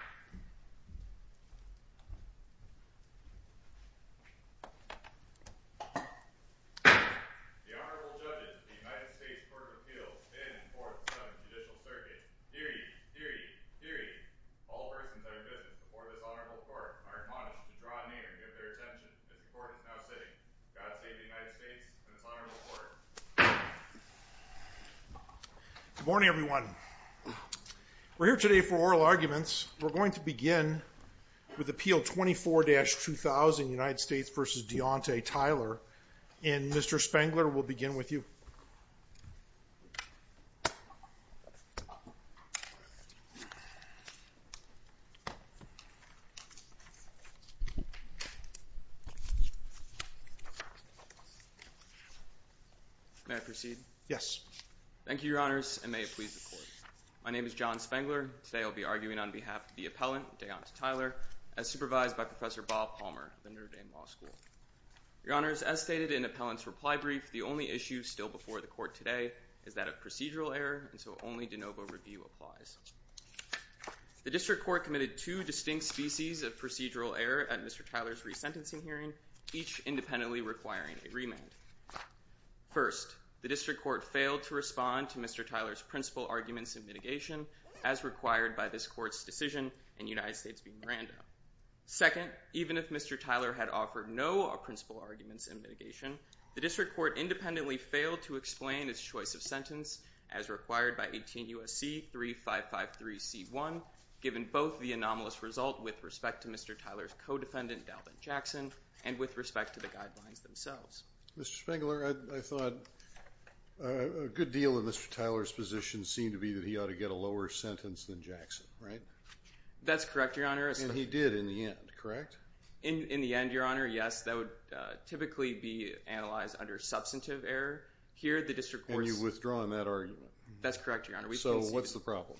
The Honorable Judges, the United States Court of Appeals, 10th, 4th, and 7th Judicial Circuits. Deary, deary, deary, all persons are good to support this Honorable Court. I remind you to draw near and give their attention to the court that is now sitting. God save the United States and this Honorable Court. Good morning, everyone. We're here today for oral arguments. We're going to begin with Appeal 24-2000, United States v. Deaunta Tyler. And Mr. Spengler, we'll begin with you. May I proceed? Yes. Thank you, Your Honors, and may it please the Court. My name is John Spengler. Today I'll be arguing on behalf of the appellant, Deaunta Tyler, as supervised by Professor Bob Palmer of the Notre Dame Law School. Your Honors, as stated in the appellant's reply brief, the only issue still before the Court today is that of procedural error, and so only de novo review applies. The District Court committed two distinct species of procedural error at Mr. Tyler's resentencing hearing, each independently requiring a remand. First, the District Court failed to respond to Mr. Tyler's principal arguments in mitigation as required by this Court's decision in United States v. Miranda. Second, even if Mr. Tyler had offered no principal arguments in mitigation, the District Court independently failed to explain its choice of sentence as required by 18 U.S.C. 3553C1, given both the anomalous result with respect to Mr. Tyler's co-defendant, Dalvin Jackson, and with respect to the guidelines themselves. Mr. Spengler, I thought a good deal in Mr. Tyler's position seemed to be that he ought to get a lower sentence than Jackson, right? That's correct, Your Honor. And he did in the end, correct? In the end, Your Honor, yes. That would typically be analyzed under substantive error. Here, the District Court's... And you've withdrawn that argument. That's correct, Your Honor. So what's the problem?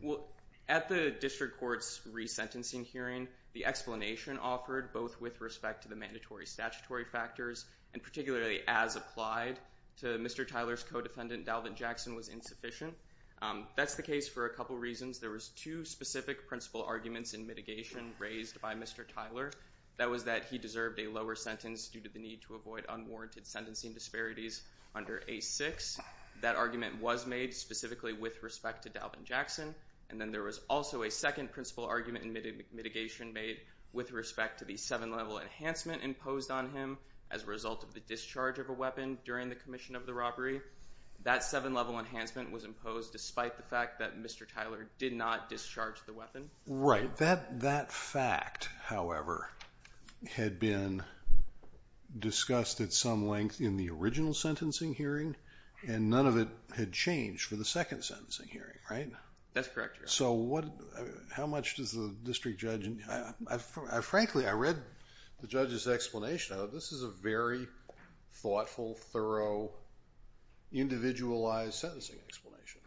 Well, at the District Court's resentencing hearing, the explanation offered both with respect to the mandatory statutory factors and particularly as applied to Mr. Tyler's co-defendant, Dalvin Jackson, was insufficient. That's the case for a couple reasons. There was two specific principal arguments in mitigation raised by Mr. Tyler. That was that he deserved a lower sentence due to the need to avoid unwarranted sentencing disparities under A6. That argument was made specifically with respect to Dalvin Jackson. And then there was also a second principal argument in mitigation made with respect to the seven-level enhancement imposed on him as a result of the discharge of a weapon during the commission of the robbery. That seven-level enhancement was imposed despite the fact that Mr. Tyler did not discharge the weapon. Right. That fact, however, had been discussed at some length in the original sentencing hearing, and none of it had changed for the second sentencing hearing, right? That's correct, Your Honor. So how much does the district judge... Frankly, I read the judge's explanation. This is a very thoughtful, thorough, individualized sentencing explanation.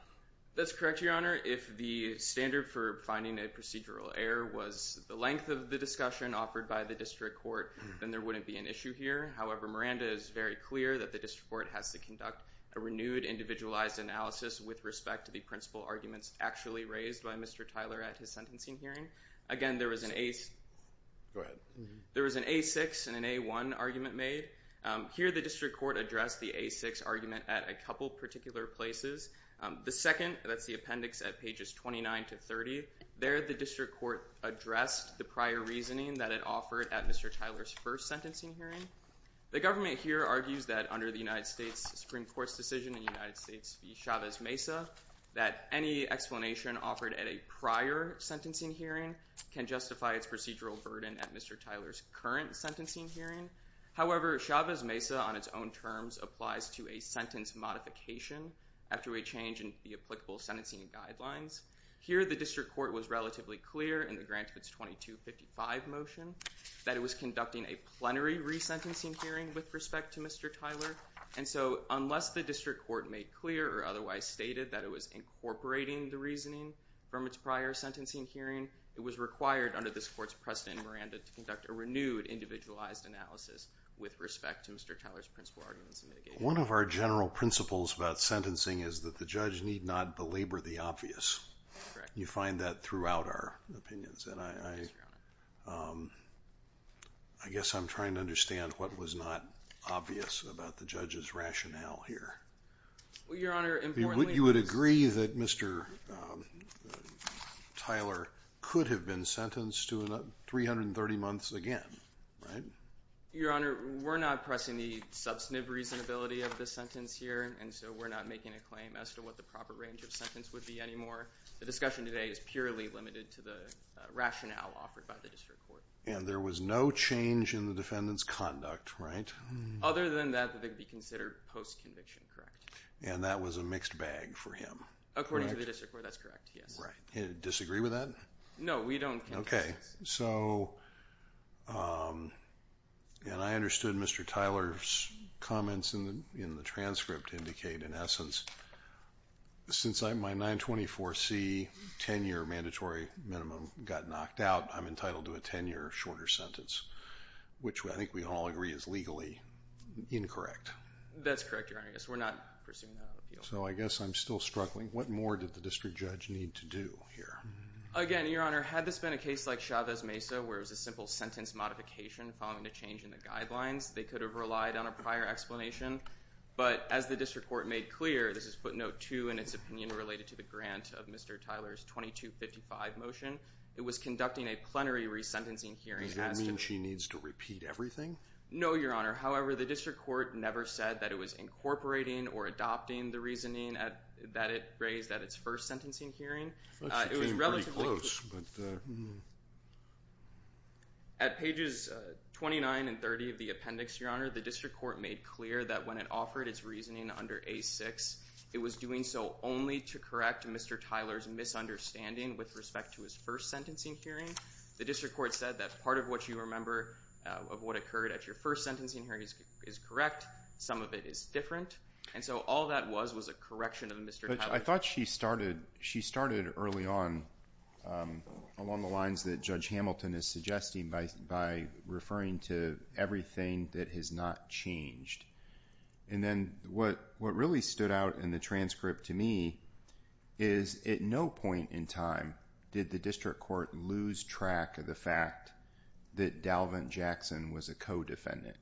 That's correct, Your Honor. If the standard for finding a procedural error was the length of the discussion offered by the district court, then there wouldn't be an issue here. However, Miranda is very clear that the district court has to conduct a renewed individualized analysis with respect to the principal arguments actually raised by Mr. Tyler at his sentencing hearing. Again, there was an A... Go ahead. There was an A-6 and an A-1 argument made. Here, the district court addressed the A-6 argument at a couple particular places. The second, that's the appendix at pages 29 to 30, there the district court addressed the prior reasoning that it offered at Mr. Tyler's first sentencing hearing. The government here argues that under the United States Supreme Court's decision in the United States v. Chavez Mesa, that any explanation offered at a prior sentencing hearing can justify its procedural burden at Mr. Tyler's current sentencing hearing. However, Chavez Mesa, on its own terms, applies to a sentence modification after a change in the applicable sentencing guidelines. Here, the district court was relatively clear in the Grants Bits 2255 motion that it was conducting a plenary resentencing hearing with respect to Mr. Tyler, and so unless the district court made clear or otherwise stated that it was incorporating the reasoning from its prior sentencing hearing, it was required under this court's precedent in Miranda to conduct a renewed individualized analysis with respect to Mr. Tyler's principal arguments in mitigation. One of our general principles about sentencing is that the judge need not belabor the obvious. You find that throughout our opinions, and I guess I'm trying to understand what was not obvious about the judge's rationale here. Your Honor, importantly... You would agree that Mr. Tyler could have been sentenced to 330 months again, right? Your Honor, we're not pressing the substantive reasonability of this sentence here, and so we're not making a claim as to what the proper range of sentence would be anymore. The discussion today is purely limited to the rationale offered by the district court. And there was no change in the defendant's conduct, right? Other than that, they could be considered post-conviction, correct. And that was a mixed bag for him. According to the district court, that's correct, yes. Right. Disagree with that? No, we don't. Okay, so... And I understood Mr. Tyler's comments in the transcript indicate, in essence, since my 924C 10-year mandatory minimum got knocked out, I'm entitled to a 10-year shorter sentence, which I think we all agree is legally incorrect. That's correct, Your Honor. Yes, we're not pursuing that appeal. So I guess I'm still struggling. What more did the district judge need to do here? Again, Your Honor, had this been a case like Chavez-Mesa, where it was a simple sentence modification following a change in the guidelines, they could have relied on a prior explanation. But as the district court made clear, this is footnote 2 in its opinion related to the grant of Mr. Tyler's 2255 motion, it was conducting a plenary resentencing hearing... Does that mean she needs to repeat everything? No, Your Honor. However, the district court never said that it was incorporating or adopting the reasoning that it raised at its first sentencing hearing. It was relatively... That's pretty close, but... At pages 29 and 30 of the appendix, Your Honor, the district court made clear that when it offered its reasoning under A6, it was doing so only to correct Mr. Tyler's misunderstanding with respect to his first sentencing hearing. The district court said that part of what you remember of what occurred at your first sentencing hearing is correct. Some of it is different. And so all that was was a correction of Mr. Tyler's... I thought she started early on along the lines that Judge Hamilton is suggesting by referring to everything that has not changed. And then what really stood out in the transcript to me is at no point in time did the district court lose track of the fact that Dalvin Jackson was a co-defendant.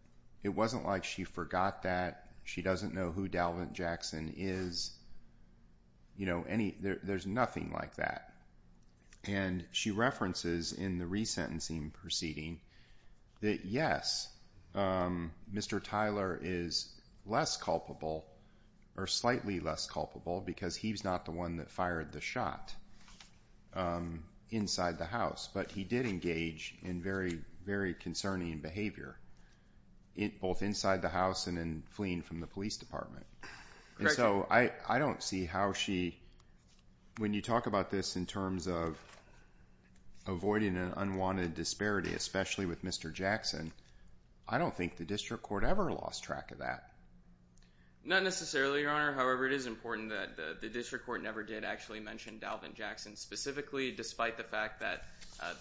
It wasn't like she forgot that. She doesn't know who Dalvin Jackson is. You know, there's nothing like that. And she references in the resentencing proceeding that, yes, Mr. Tyler is less culpable, or slightly less culpable, because he's not the one that fired the shot inside the house. But he did engage in very, very concerning behavior, both inside the house and in fleeing from the police department. And so I don't see how she... When you talk about this in terms of avoiding an unwanted disparity, especially with Mr. Jackson, I don't think the district court ever lost track of that. Not necessarily, Your Honor. However, it is important that the district court never did actually mention Dalvin Jackson specifically, despite the fact that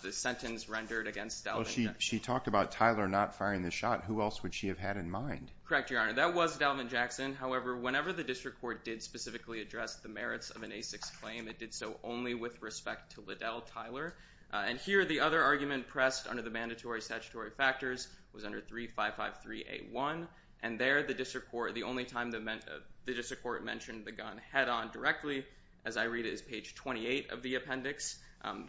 the sentence rendered against Dalvin... Oh, she talked about Tyler not firing the shot. Who else would she have had in mind? Correct, Your Honor. That was Dalvin Jackson. However, whenever the district court did specifically address the merits of an A6 claim, it did so only with respect to Liddell Tyler. And here the other argument pressed under the mandatory statutory factors was under 3553A1. And there the district court... The only time the district court mentioned the gun head-on directly, as I read it, is page 28 of the appendix.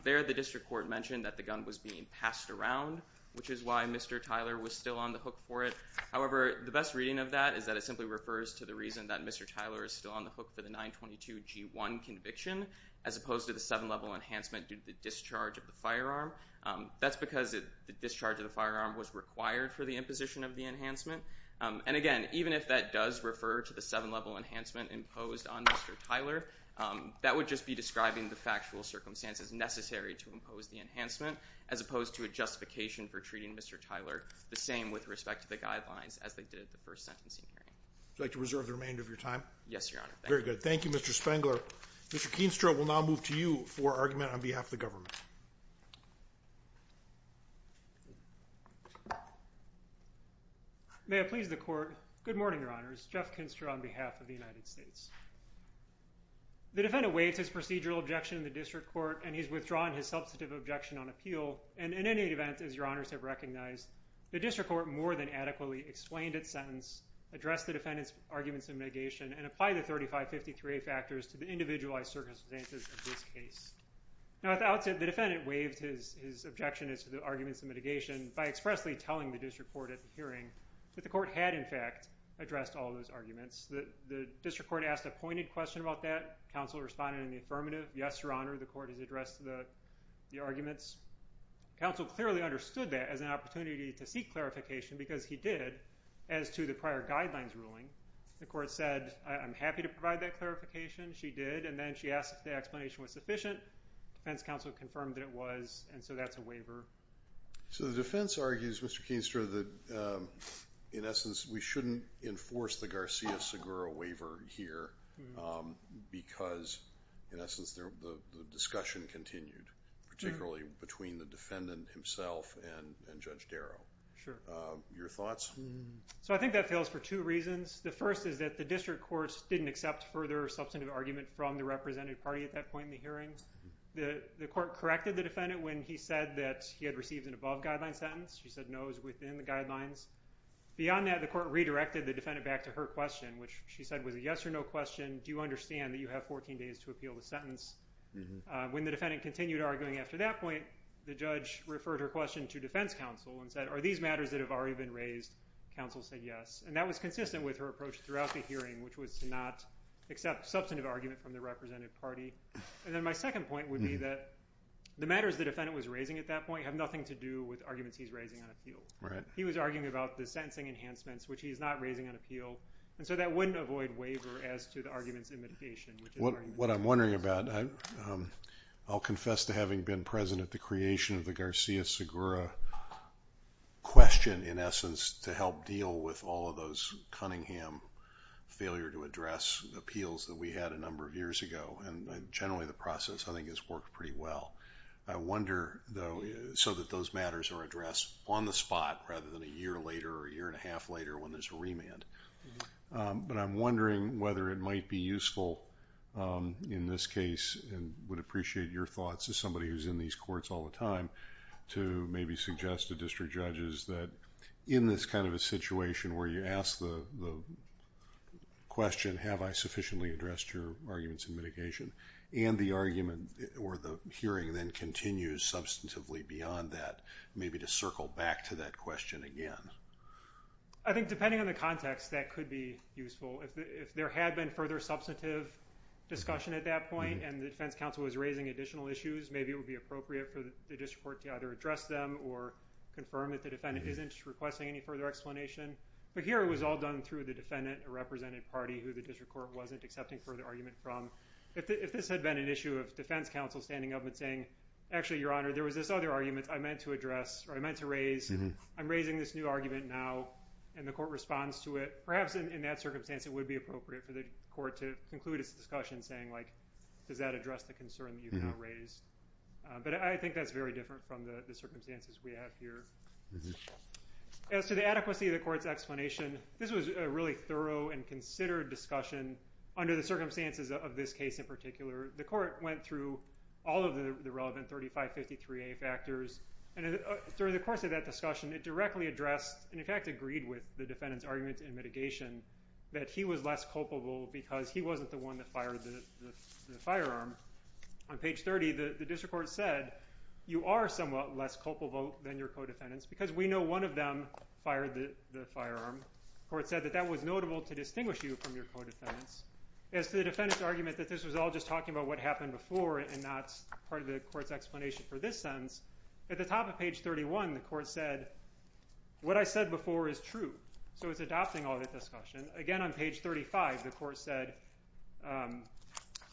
There the district court mentioned that the gun was being passed around, which is why Mr. Tyler was still on the hook for it. However, the best reading of that is that it simply refers to the reason that Mr. Tyler is still on the hook for the 922G1 conviction, as opposed to the 7-level enhancement due to the discharge of the firearm. That's because the discharge of the firearm was required for the imposition of the enhancement. And again, even if that does refer to the 7-level enhancement imposed on Mr. Tyler, that would just be describing the factual circumstances necessary to impose the enhancement, as opposed to a justification for treating Mr. Tyler the same with respect to the guidelines as they did at the first sentencing hearing. Would you like to reserve the remainder of your time? Yes, Your Honor. Thank you. Very good. Thank you, Mr. Spengler. Mr. Keenstra, we'll now move to you for argument on behalf of the government. May it please the Court. Good morning, Your Honors. Jeff Keenstra on behalf of the United States. The defendant waives his procedural objection in the District Court, and he's withdrawn his substantive objection on appeal. And in any event, as Your Honors have recognized, the District Court more than adequately explained its sentence, addressed the defendant's arguments in mitigation, and applied the 3553A factors to the individualized circumstances of this case. Now, at the outset, the defendant waived his objection as to the arguments in mitigation by expressly telling the District Court at the hearing that the Court had, in fact, addressed all those arguments. The District Court asked a pointed question about that. Counsel responded in the affirmative. Yes, Your Honor, the Court has addressed the arguments. Counsel clearly understood that as an opportunity to seek clarification, because he did, as to the prior guidelines ruling. The Court said, I'm happy to provide that clarification. She did, and then she asked if the explanation was sufficient. The defense counsel confirmed that it was, and so that's a waiver. So the defense argues, Mr. Keenstra, that in essence we shouldn't enforce the Garcia-Segura waiver here, because in essence the discussion continued, particularly between the defendant himself and Judge Darrow. Sure. Your thoughts? So I think that fails for two reasons. The first is that the District Courts didn't accept further substantive argument from the representative party at that point in the hearing. The Court corrected the defendant when he said that he had received an above-guideline sentence. He said no is within the guidelines. Beyond that, the Court redirected the defendant back to her question, which she said was a yes or no question. Do you understand that you have 14 days to appeal the sentence? When the defendant continued arguing after that point, the judge referred her question to defense counsel and said, are these matters that have already been raised? Counsel said yes, and that was consistent with her approach throughout the hearing, which was to not accept substantive argument from the representative party. And then my second point would be that the matters the defendant was raising at that point have nothing to do with arguments he's raising on appeal. He was arguing about the sentencing enhancements, which he's not raising on appeal, and so that wouldn't avoid waiver as to the arguments in mitigation. What I'm wondering about, I'll confess to having been present at the creation of the Garcia-Segura question in essence to help deal with all of those Cunningham failure to address appeals that we had a number of years ago, and generally the process I think has worked pretty well. I wonder though, so that those matters are addressed on the spot rather than a year later or a year and a half later when there's a remand. But I'm wondering whether it might be useful in this case and would appreciate your thoughts as somebody who's in these courts all the time to maybe suggest to district judges that in this kind of a situation where you ask the question, have I sufficiently addressed your arguments in mitigation, and the argument or the hearing then continues substantively beyond that, maybe to circle back to that question again. I think depending on the context, that could be useful. If there had been further substantive discussion at that point and the defense counsel was raising additional issues, maybe it would be appropriate for the district court to either address them or confirm that the defendant isn't requesting any further explanation. But here it was all done through the defendant, a represented party who the district court wasn't accepting further argument from. If this had been an issue of defense counsel standing up and saying, actually, your honor, there was this other argument I meant to address or I meant to raise, I'm raising this new argument now, and the court responds to it, perhaps in that circumstance, it would be appropriate for the court to conclude its discussion saying, does that address the concern that you've now raised? But I think that's very different from the circumstances we have here. As to the adequacy of the court's explanation, this was a really thorough and considered discussion under the circumstances of this case in particular. The court went through all of the relevant 3553A factors, and during the course of that discussion, it directly addressed and in fact agreed with the defendant's argument in mitigation that he was less culpable because he wasn't the one that fired the firearm. On page 30, the district court said, you are somewhat less culpable than your co-defendants because we know one of them fired the firearm. The court said that that was notable to distinguish you from your co-defendants. As to the defendant's argument that this was all just talking about what happened before and not part of the court's explanation for this sentence, at the top of page 31, the court said, what I said before is true. So it's adopting all that discussion. Again, on page 35, the court said,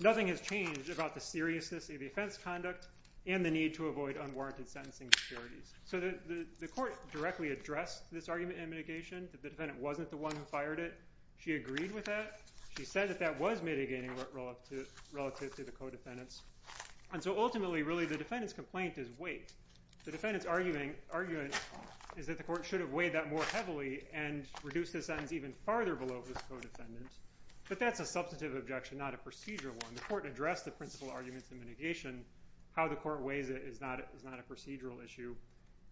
nothing has changed about the seriousness of the offense conduct and the need to avoid unwarranted sentencing securities. The court directly addressed this argument in mitigation that the defendant wasn't the one who fired it. She agreed with that. She said that that was mitigating relative to the co-defendants. Ultimately, really, the defendant's complaint is weight. The defendant's argument is that the court should have weighed that more heavily and reduced the sentence even farther below the co-defendant. But that's a substantive objection, not a procedural one. The court addressed the principal arguments in mitigation. How the court weighs it is not a procedural issue.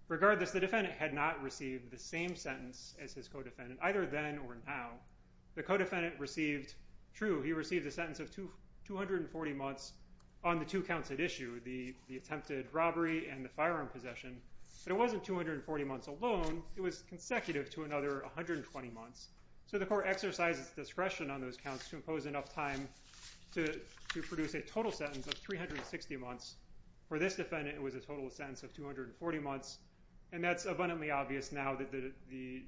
Regardless, the defendant had not received the same sentence as his co-defendant, either then or now. The co-defendant received, true, he received a sentence of 240 months on the two counts at issue, the attempted robbery and the firearm possession. But it wasn't 240 months alone. It was consecutive to another 120 months. So the court exercises discretion on those counts to impose enough time to produce a total sentence of 360 months. For this defendant, it was a total sentence of 240 months. And that's abundantly obvious now that the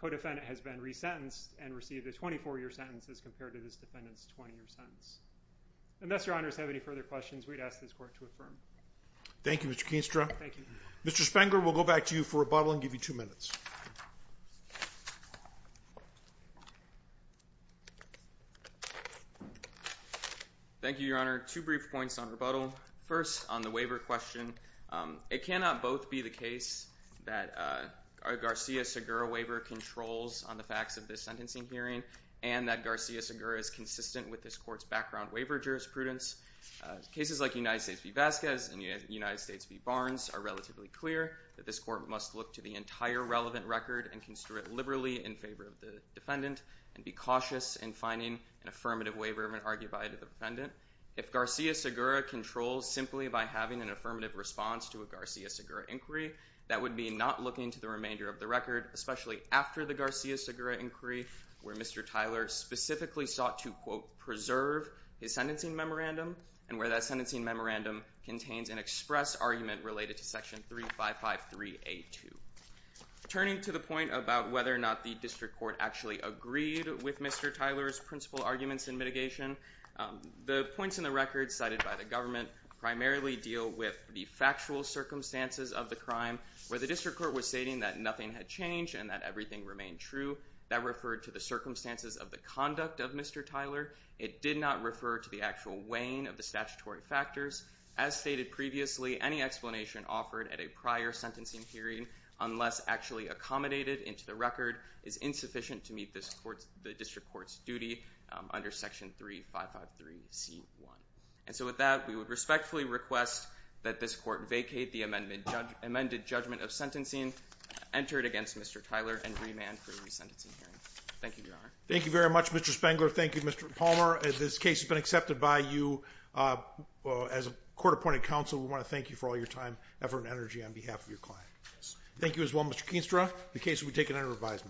co-defendant has been resentenced and received a 24-year sentence as compared to this defendant's 20-year sentence. Unless your honors have any further questions, we'd ask this court to affirm. Thank you, Mr. Keenstra. Thank you. Mr. Spangler, we'll go back to you for rebuttal and give you two minutes. Thank you, Your Honor. Two brief points on rebuttal. First, on the waiver question, it cannot both be the case that our Garcia-Segura waiver controls on the facts of this sentencing hearing and that Garcia-Segura is consistent with this court's background waiver jurisprudence. Cases like United States v. Vasquez and United States v. Barnes are relatively clear that this court must look to the entire relevant record and construe it liberally in favor of the defendant and be cautious in finding an affirmative waiver of an argument by the defendant. If Garcia-Segura controls simply by having an affirmative response to a Garcia-Segura inquiry, that would be not looking to the remainder of the record, especially after the Garcia-Segura inquiry where Mr. Tyler specifically sought to, quote, preserve his sentencing memorandum and where that sentencing memorandum contains an express argument related to Section 3553A2. Turning to the point about whether or not the district court actually agreed with Mr. Tyler's principal arguments in mitigation, the points in the record cited by the government primarily deal with the factual circumstances of the crime where the district court was stating that nothing had changed and that everything remained true. That referred to the circumstances of the conduct of Mr. Tyler. It did not refer to the actual weighing of the statutory factors. As stated previously, any explanation offered at a prior sentencing hearing unless actually accommodated into the record is insufficient to meet the district court's duty under Section 3553C1. And so with that, we would respectfully request that this court vacate the amended judgment of sentencing, enter it against Mr. Tyler, and remand for a resentencing hearing. Thank you, Your Honor. Thank you very much, Mr. Spengler. Thank you, Mr. Palmer. This case has been accepted by you. As a court-appointed counsel, we want to thank you for all your time, effort, and energy on behalf of your client. Thank you as well, Mr. Keenstra. The case will be taken under revision.